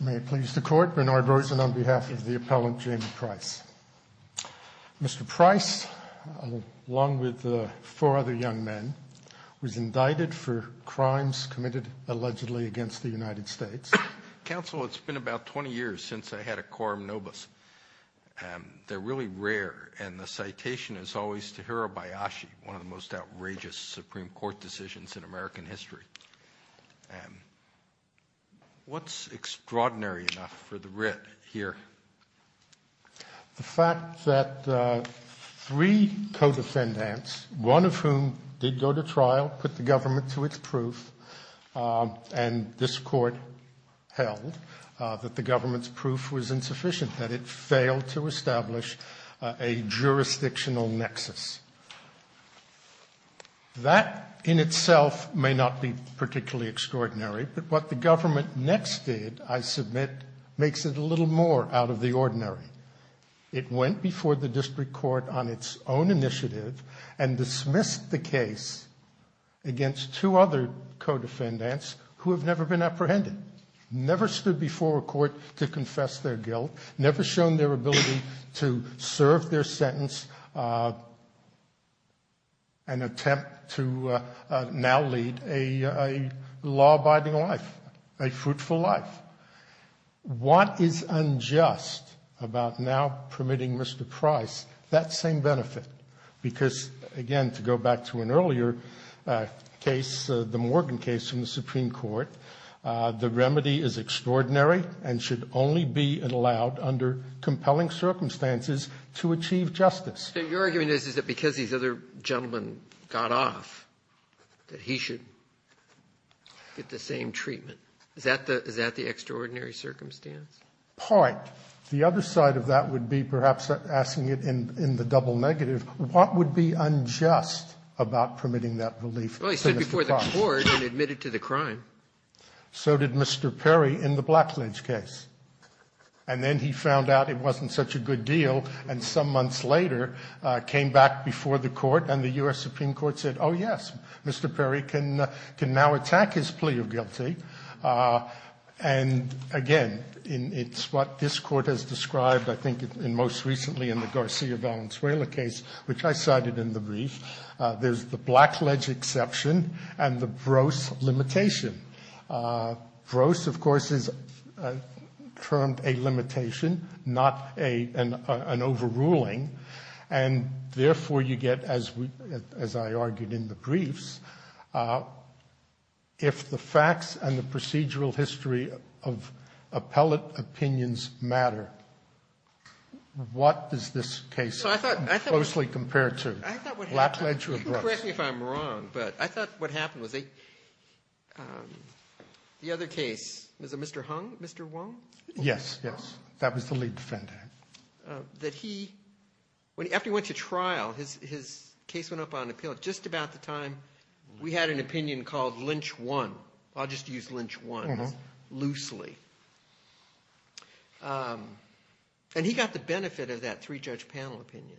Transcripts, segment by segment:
May it please the Court, Bernard Rosen on behalf of the appellant Jaime Price. Mr. Price, along with four other young men, was indicted for crimes committed allegedly against the United States. Counsel, it's been about 20 years since I had a quorum nobis. They're really rare, and the citation is always Tahirah Bayashi, one of the most outrageous Supreme Court decisions in American history. What's extraordinary enough for the writ here? The fact that three co-defendants, one of whom did go to trial, put the government to its proof, and this Court held that the government's proof was insufficient, that it failed to establish a jurisdictional nexus. That in itself may not be particularly extraordinary, but what the government next did, I submit, makes it a little more out of the ordinary. It went before the district court on its own initiative and dismissed the case against two other co-defendants who have never been apprehended, never stood before a court to confess their guilt, never shown their ability to serve their sentence and attempt to now lead a law-abiding life, a fruitful life. What is unjust about now permitting Mr. Price that same benefit? Because, again, to go back to an earlier case, the Morgan case in the Supreme Court, the remedy is extraordinary and should only be allowed under compelling circumstances to achieve justice. So your argument is that because these other gentlemen got off, that he should get the same treatment? Is that the extraordinary circumstance? Part. The other side of that would be perhaps asking it in the double negative, what would be unjust about permitting that relief to Mr. Price? Well, he stood before the court and admitted to the crime. So did Mr. Perry in the Blackledge case. And then he found out it wasn't such a good deal, and some months later came back before the court and the U.S. Supreme Court said, oh, yes, Mr. Perry can now attack his plea of guilty. And, again, it's what this Court has described, I think, most recently in the Garcia-Valenzuela case, which I cited in the brief. There's the Blackledge exception and the Vroese limitation. Vroese, of course, is termed a limitation, not an overruling. And, therefore, you get, as I argued in the briefs, if the facts and the procedural history of appellate opinions matter, what does this case closely compare to? Blackledge or Vroese? You can correct me if I'm wrong, but I thought what happened was the other case, was it Mr. Hung, Mr. Wong? Yes, yes. That was the lead defendant. That he, after he went to trial, his case went up on appeal just about the time we had an opinion called Lynch 1. I'll just use Lynch 1 loosely. And he got the benefit of that three-judge panel opinion,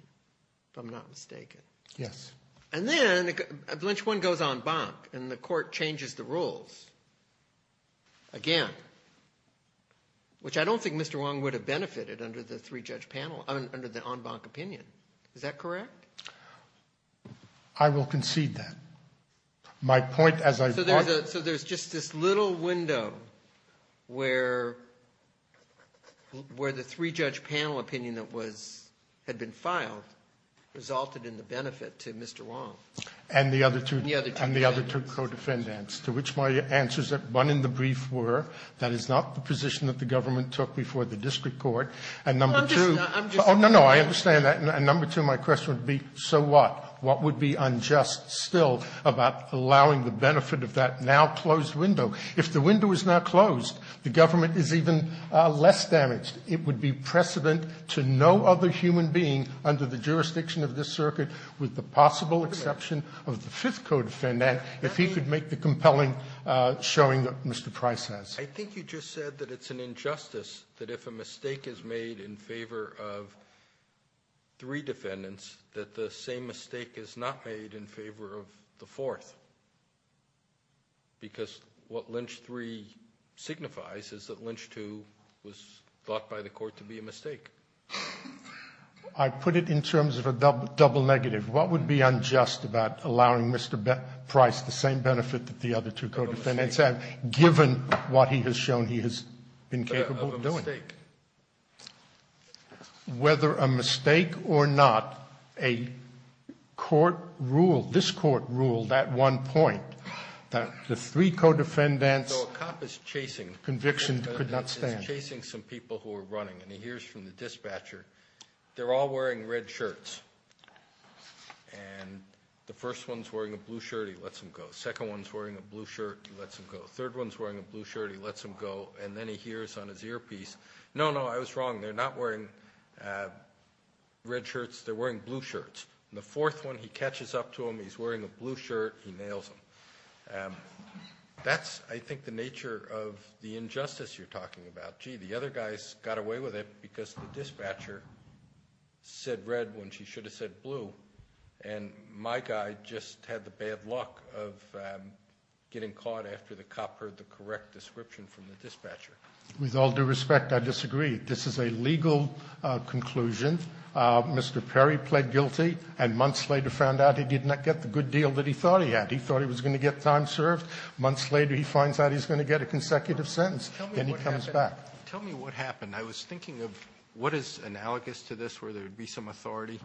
if I'm not mistaken. Yes. And then Lynch 1 goes en banc, and the Court changes the rules again, which I don't think Mr. Wong benefited under the three-judge panel, under the en banc opinion. Is that correct? I will concede that. My point, as I brought it up. So there's just this little window where the three-judge panel opinion that was, had been filed resulted in the benefit to Mr. Wong. And the other two. And the other two defendants. And the other two defendants, to which my answers at one in the brief were, that is not the position that the government took before the district court. And number two. Oh, no, no. I understand that. And number two, my question would be, so what? What would be unjust still about allowing the benefit of that now-closed window? If the window is now closed, the government is even less damaged. It would be precedent to no other human being under the jurisdiction of this circuit with the possible exception of the fifth co-defendant, if he could make the compelling showing that Mr. Price has. I think you just said that it's an injustice that if a mistake is made in favor of three defendants, that the same mistake is not made in favor of the fourth. Because what Lynch 3 signifies is that Lynch 2 was thought by the court to be a mistake. I put it in terms of a double negative. What would be unjust about allowing Mr. Price the same benefit that the other two co-defendants have, given what he has shown he has been capable of doing? Of a mistake. Whether a mistake or not, a court ruled, this court ruled at one point that the three co-defendants' conviction could not stand. He's chasing some people who are running, and he hears from the dispatcher, they're all wearing red shirts. And the first one's wearing a blue shirt, he lets him go. Second one's wearing a blue shirt, he lets him go. Third one's wearing a blue shirt, he lets him go. And then he hears on his earpiece, no, no, I was wrong, they're not wearing red shirts, they're wearing blue shirts. And the fourth one, he catches up to him, he's wearing a blue shirt, he nails him. That's, I think, the nature of the injustice you're talking about. Gee, the other guys got away with it because the dispatcher said red when she should have said blue, and my guy just had the bad luck of getting caught after the cop heard the correct description from the dispatcher. With all due respect, I disagree. This is a legal conclusion. Mr. Perry pled guilty and months later found out he did not get the good deal that he thought he had. He thought he was going to get time served. Months later he finds out he's going to get a consecutive sentence. Then he comes back. Tell me what happened. I was thinking of what is analogous to this where there would be some authority.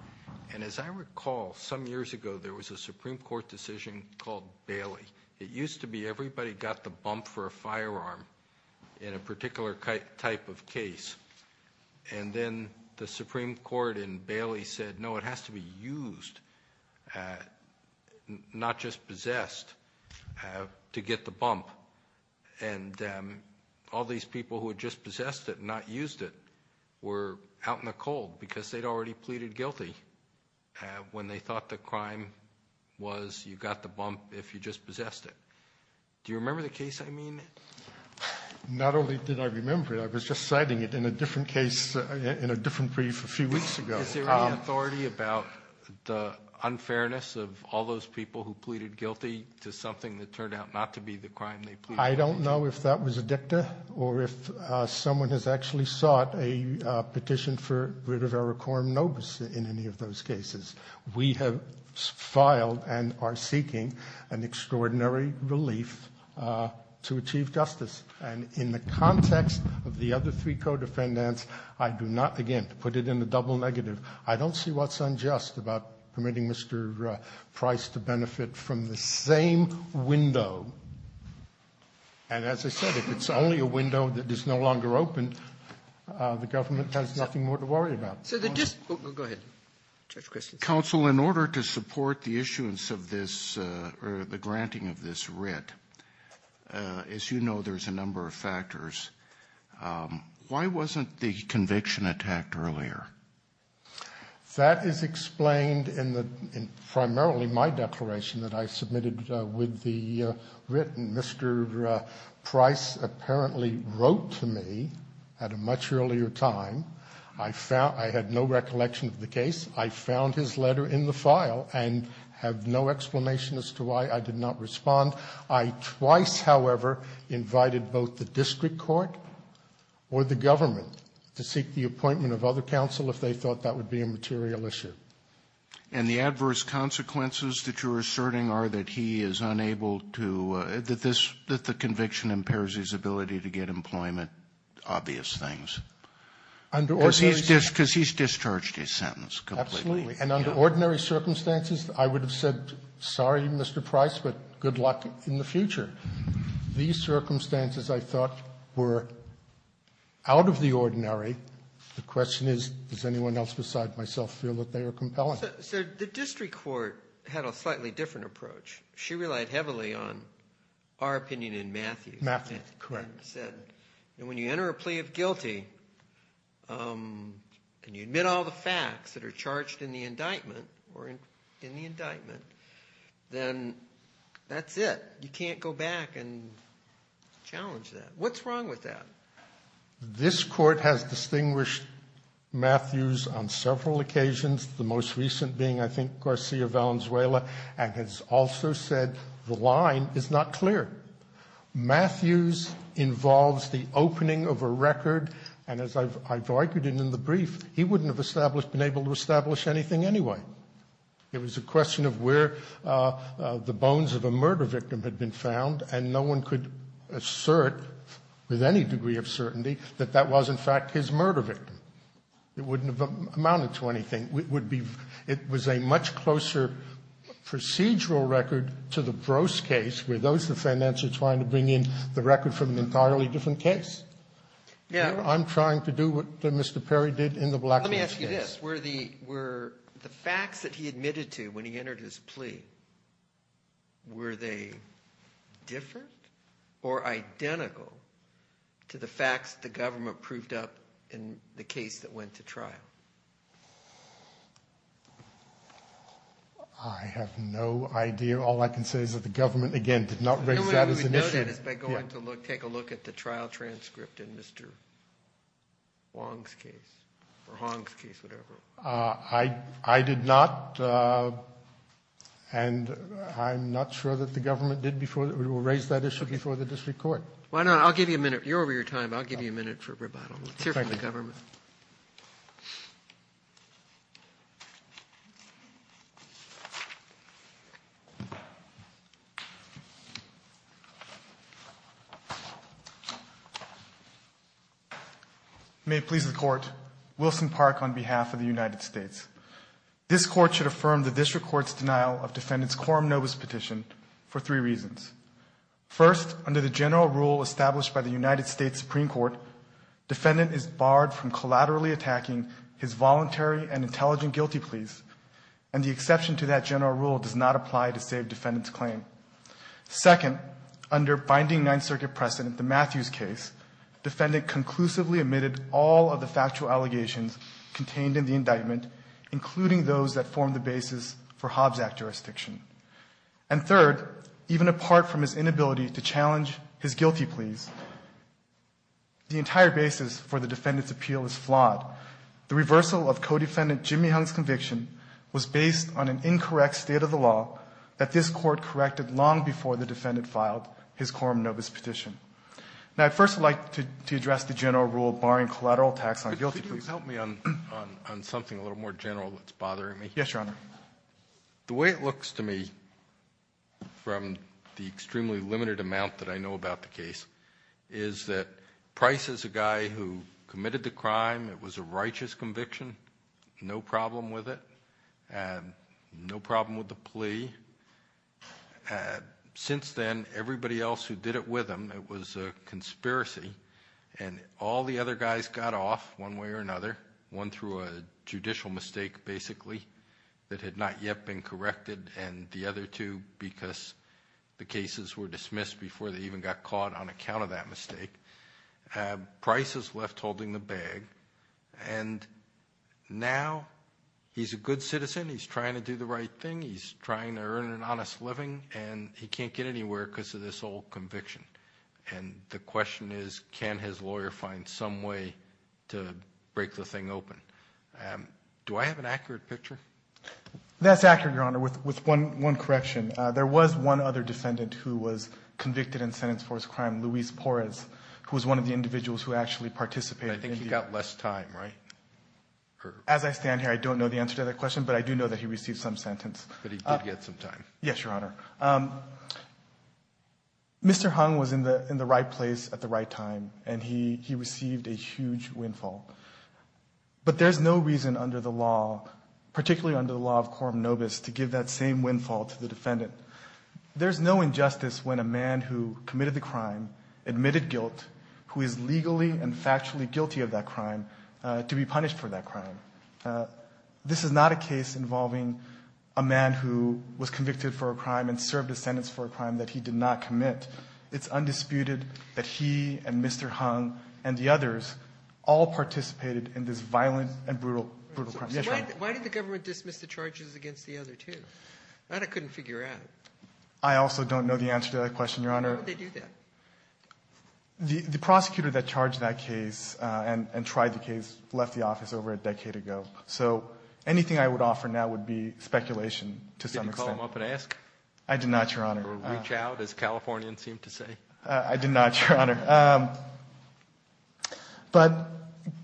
And as I recall, some years ago there was a Supreme Court decision called Bailey. It used to be everybody got the bump for a firearm in a particular type of case. And then the Supreme Court in Bailey said, no, it has to be used, not just possessed, to get the bump. And all these people who had just possessed it and not used it were out in the cold because they'd already pleaded guilty when they thought the crime was you got the bump if you just possessed it. Do you remember the case I mean? Not only did I remember it. I was just citing it in a different case in a different brief a few weeks ago. Is there any authority about the unfairness of all those people who pleaded guilty to something that turned out not to be the crime they pleaded guilty to? I don't know if that was a dicta or if someone has actually sought a petition for rid of a recorum nobis in any of those cases. We have filed and are seeking an extraordinary relief to achieve justice. And in the context of the other three co-defendants, I do not, again, to put it in a double negative, I don't see what's unjust about permitting Mr. Price to benefit from the same window. And as I said, if it's only a window that is no longer open, the government has nothing more to worry about. Ginsburg. Oh, go ahead. Judge Christensen. Counsel, in order to support the issuance of this or the granting of this writ, as you know, there's a number of factors. Why wasn't the conviction attacked earlier? That is explained in primarily my declaration that I submitted with the writ. Mr. Price apparently wrote to me at a much earlier time. I had no recollection of the case. I found his letter in the file and have no explanation as to why I did not respond. I twice, however, invited both the district court or the government to seek the appointment of other counsel if they thought that would be a material issue. And the adverse consequences that you're asserting are that he is unable to do this, that the conviction impairs his ability to get employment, obvious things. Under ordinary circumstances. Because he's discharged his sentence completely. Absolutely. And under ordinary circumstances, I would have said, sorry, Mr. Price, but good luck in the future. These circumstances, I thought, were out of the ordinary. The question is, does anyone else beside myself feel that they are compelling? So the district court had a slightly different approach. She relied heavily on our opinion in Matthews. Matthews, correct. And when you enter a plea of guilty and you admit all the facts that are charged in the indictment or in the indictment, then that's it. You can't go back and challenge that. What's wrong with that? This court has distinguished Matthews on several occasions, the most recent being, I think, Garcia Valenzuela, and has also said the line is not clear. Matthews involves the opening of a record, and as I've argued in the brief, he wouldn't have been able to establish anything anyway. It was a question of where the bones of a murder victim had been found, and no one could assert with any degree of certainty that that was, in fact, his murder victim. It wouldn't have amounted to anything. It was a much closer procedural record to the Gross case, where those defendants are trying to bring in the record from an entirely different case. I'm trying to do what Mr. Perry did in the Blackwell case. Let me ask you this. Were the facts that he admitted to when he entered his plea, were they different or identical to the facts the government proved up in the case that went to trial? I have no idea. All I can say is that the government, again, did not raise that as an issue. The only way we would know that is by going to look, take a look at the trial transcript in Mr. Wong's case or Hong's case, whatever. I did not, and I'm not sure that the government did before. We will raise that issue before the district court. Why not? I'll give you a minute. You're over your time, but I'll give you a minute for rebuttal. Let's hear from the government. May it please the Court. Wilson Park on behalf of the United States. This Court should affirm the district court's denial of defendant's quorum nobis petition for three reasons. First, under the general rule established by the United States Supreme Court, defendant is barred from collaterally attacking his voluntary and intelligent guilty pleas, and the exception to that general rule does not apply to save defendant's claim. Second, under binding Ninth Circuit precedent, the Matthews case, defendant conclusively admitted all of the factual allegations contained in the indictment, including those that formed the basis for Hobbs Act jurisdiction. And third, even apart from his inability to challenge his guilty pleas, the entire basis for the defendant's appeal is flawed. The reversal of co-defendant Jimmy Hung's conviction was based on an incorrect state of the law that this Court corrected long before the defendant filed his quorum nobis petition. Now, I'd first like to address the general rule barring collateral attacks on guilty pleas. Could you please help me on something a little more general that's bothering me? Yes, Your Honor. The way it looks to me from the extremely limited amount that I know about the case is that Price is a guy who committed the crime. It was a righteous conviction. No problem with it. No problem with the plea. Since then, everybody else who did it with him, it was a conspiracy, and all the other guys got off one way or another. One threw a judicial mistake, basically, that had not yet been corrected, and the other two because the cases were dismissed before they even got caught on account of that mistake. Price is left holding the bag, and now he's a good citizen. He's trying to do the right thing. He's trying to earn an honest living, and he can't get anywhere because of this old conviction. And the question is, can his lawyer find some way to break the thing open? Do I have an accurate picture? That's accurate, Your Honor, with one correction. There was one other defendant who was convicted and sentenced for his crime, Luis Porres, who was one of the individuals who actually participated. I think he got less time, right? As I stand here, I don't know the answer to that question, but I do know that he received some sentence. But he did get some time. Yes, Your Honor. Mr. Hung was in the right place at the right time, and he received a huge windfall. But there's no reason under the law, particularly under the law of quorum nobis, to give that same windfall to the defendant. There's no injustice when a man who committed the crime admitted guilt, who is legally and factually guilty of that crime, to be punished for that crime. This is not a case involving a man who was convicted for a crime and served a sentence for a crime that he did not commit. It's undisputed that he and Mr. Hung and the others all participated in this violent and brutal crime. Why did the government dismiss the charges against the other two? That I couldn't figure out. I also don't know the answer to that question, Your Honor. Why would they do that? The prosecutor that charged that case and tried the case left the office over a decade ago. So anything I would offer now would be speculation to some extent. Did you call him up and ask? I did not, Your Honor. Or reach out, as Californians seem to say. I did not, Your Honor. But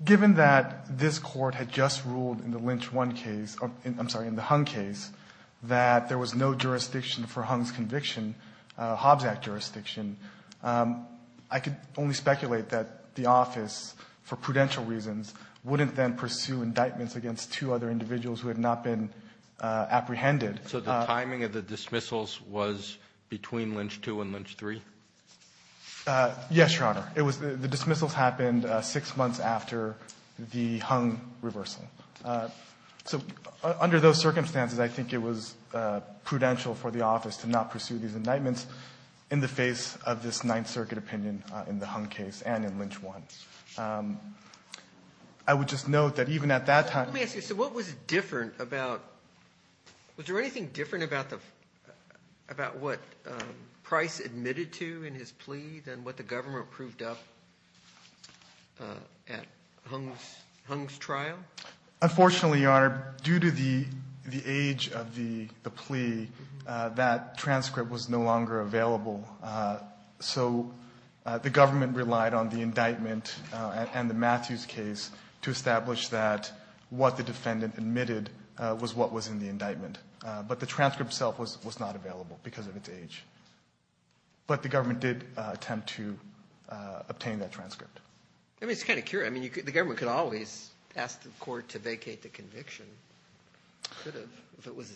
given that this Court had just ruled in the Lynch one case, I'm sorry, in the Hung case, that there was no jurisdiction for Hung's conviction, Hobbs Act jurisdiction, I could only speculate that the office, for prudential reasons, wouldn't then pursue indictments against two other individuals who had not been apprehended. So the timing of the dismissals was between Lynch two and Lynch three? Yes, Your Honor. It was the dismissals happened six months after the Hung reversal. So under those circumstances, I think it was prudential for the office to not pursue these indictments in the face of this Ninth Circuit opinion in the Hung case and in Lynch one. I would just note that even at that time ---- Let me ask you, so what was different about, was there anything different about what Price admitted to in his plea than what the government proved up at Hung's trial? Unfortunately, Your Honor, due to the age of the plea, that transcript was no longer available. So the government relied on the indictment and the Matthews case to establish that what the defendant admitted was what was in the indictment. But the transcript itself was not available because of its age. But the government did attempt to obtain that transcript. I mean, it's kind of curious. I mean, the government could always ask the court to vacate the conviction. It could have if it was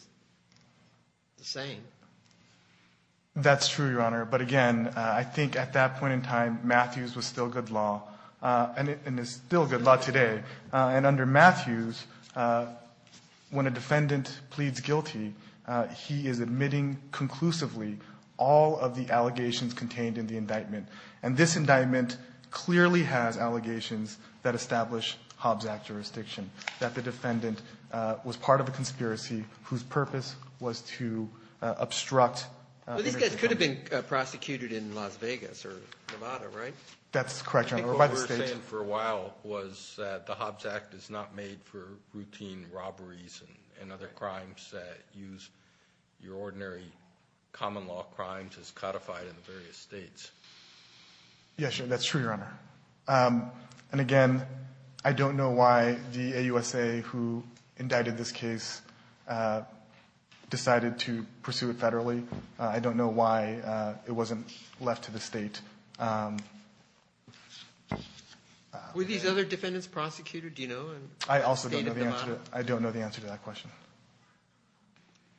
the same. That's true, Your Honor. But again, I think at that point in time, Matthews was still good law and is still good law today. And under Matthews, when a defendant pleads guilty, he is admitting conclusively all of the allegations contained in the indictment. And this indictment clearly has allegations that establish Hobbs Act jurisdiction, that the defendant was part of a conspiracy whose purpose was to obstruct ---- Well, these guys could have been prosecuted in Las Vegas or Nevada, right? That's correct, Your Honor. What we were saying for a while was that the Hobbs Act is not made for routine robberies and other crimes that use your ordinary common law crimes as codified in the various states. Yes, that's true, Your Honor. And again, I don't know why the AUSA who indicted this case decided to pursue it federally. I don't know why it wasn't left to the state. Were these other defendants prosecuted? Do you know? I also don't know the answer to that question.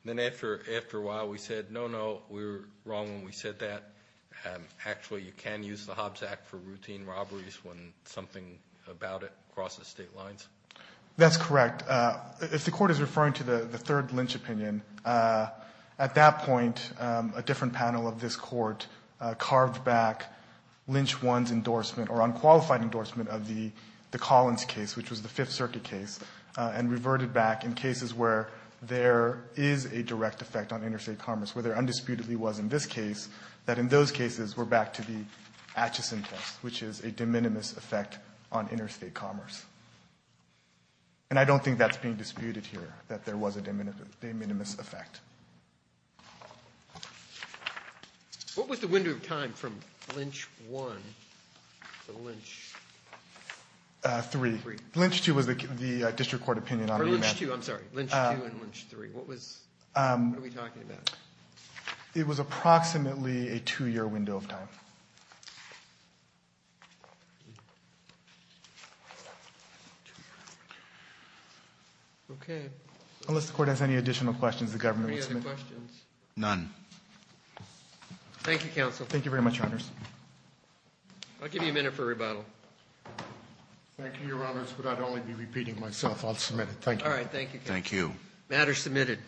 Then after a while, we said, no, no, we were wrong when we said that. Actually, you can use the Hobbs Act for routine robberies when something about it crosses state lines. That's correct. If the court is referring to the third lynch opinion, at that point, a different lynch one's endorsement or unqualified endorsement of the Collins case, which was the Fifth Circuit case, and reverted back in cases where there is a direct effect on interstate commerce, where there undisputedly was in this case, that in those cases were back to the Acheson test, which is a de minimis effect on interstate commerce. And I don't think that's being disputed here, that there was a de minimis effect. What was the window of time from lynch one to lynch three? Lynch two was the district court opinion on the event. Or lynch two, I'm sorry, lynch two and lynch three. What was, what are we talking about? It was approximately a two-year window of time. Okay. Any other questions? None. Thank you, counsel. Thank you very much, your honors. I'll give you a minute for rebuttal. Thank you, your honors, but I'd only be repeating myself. I'll submit it. Thank you. All right. Thank you. Thank you. Matter submitted.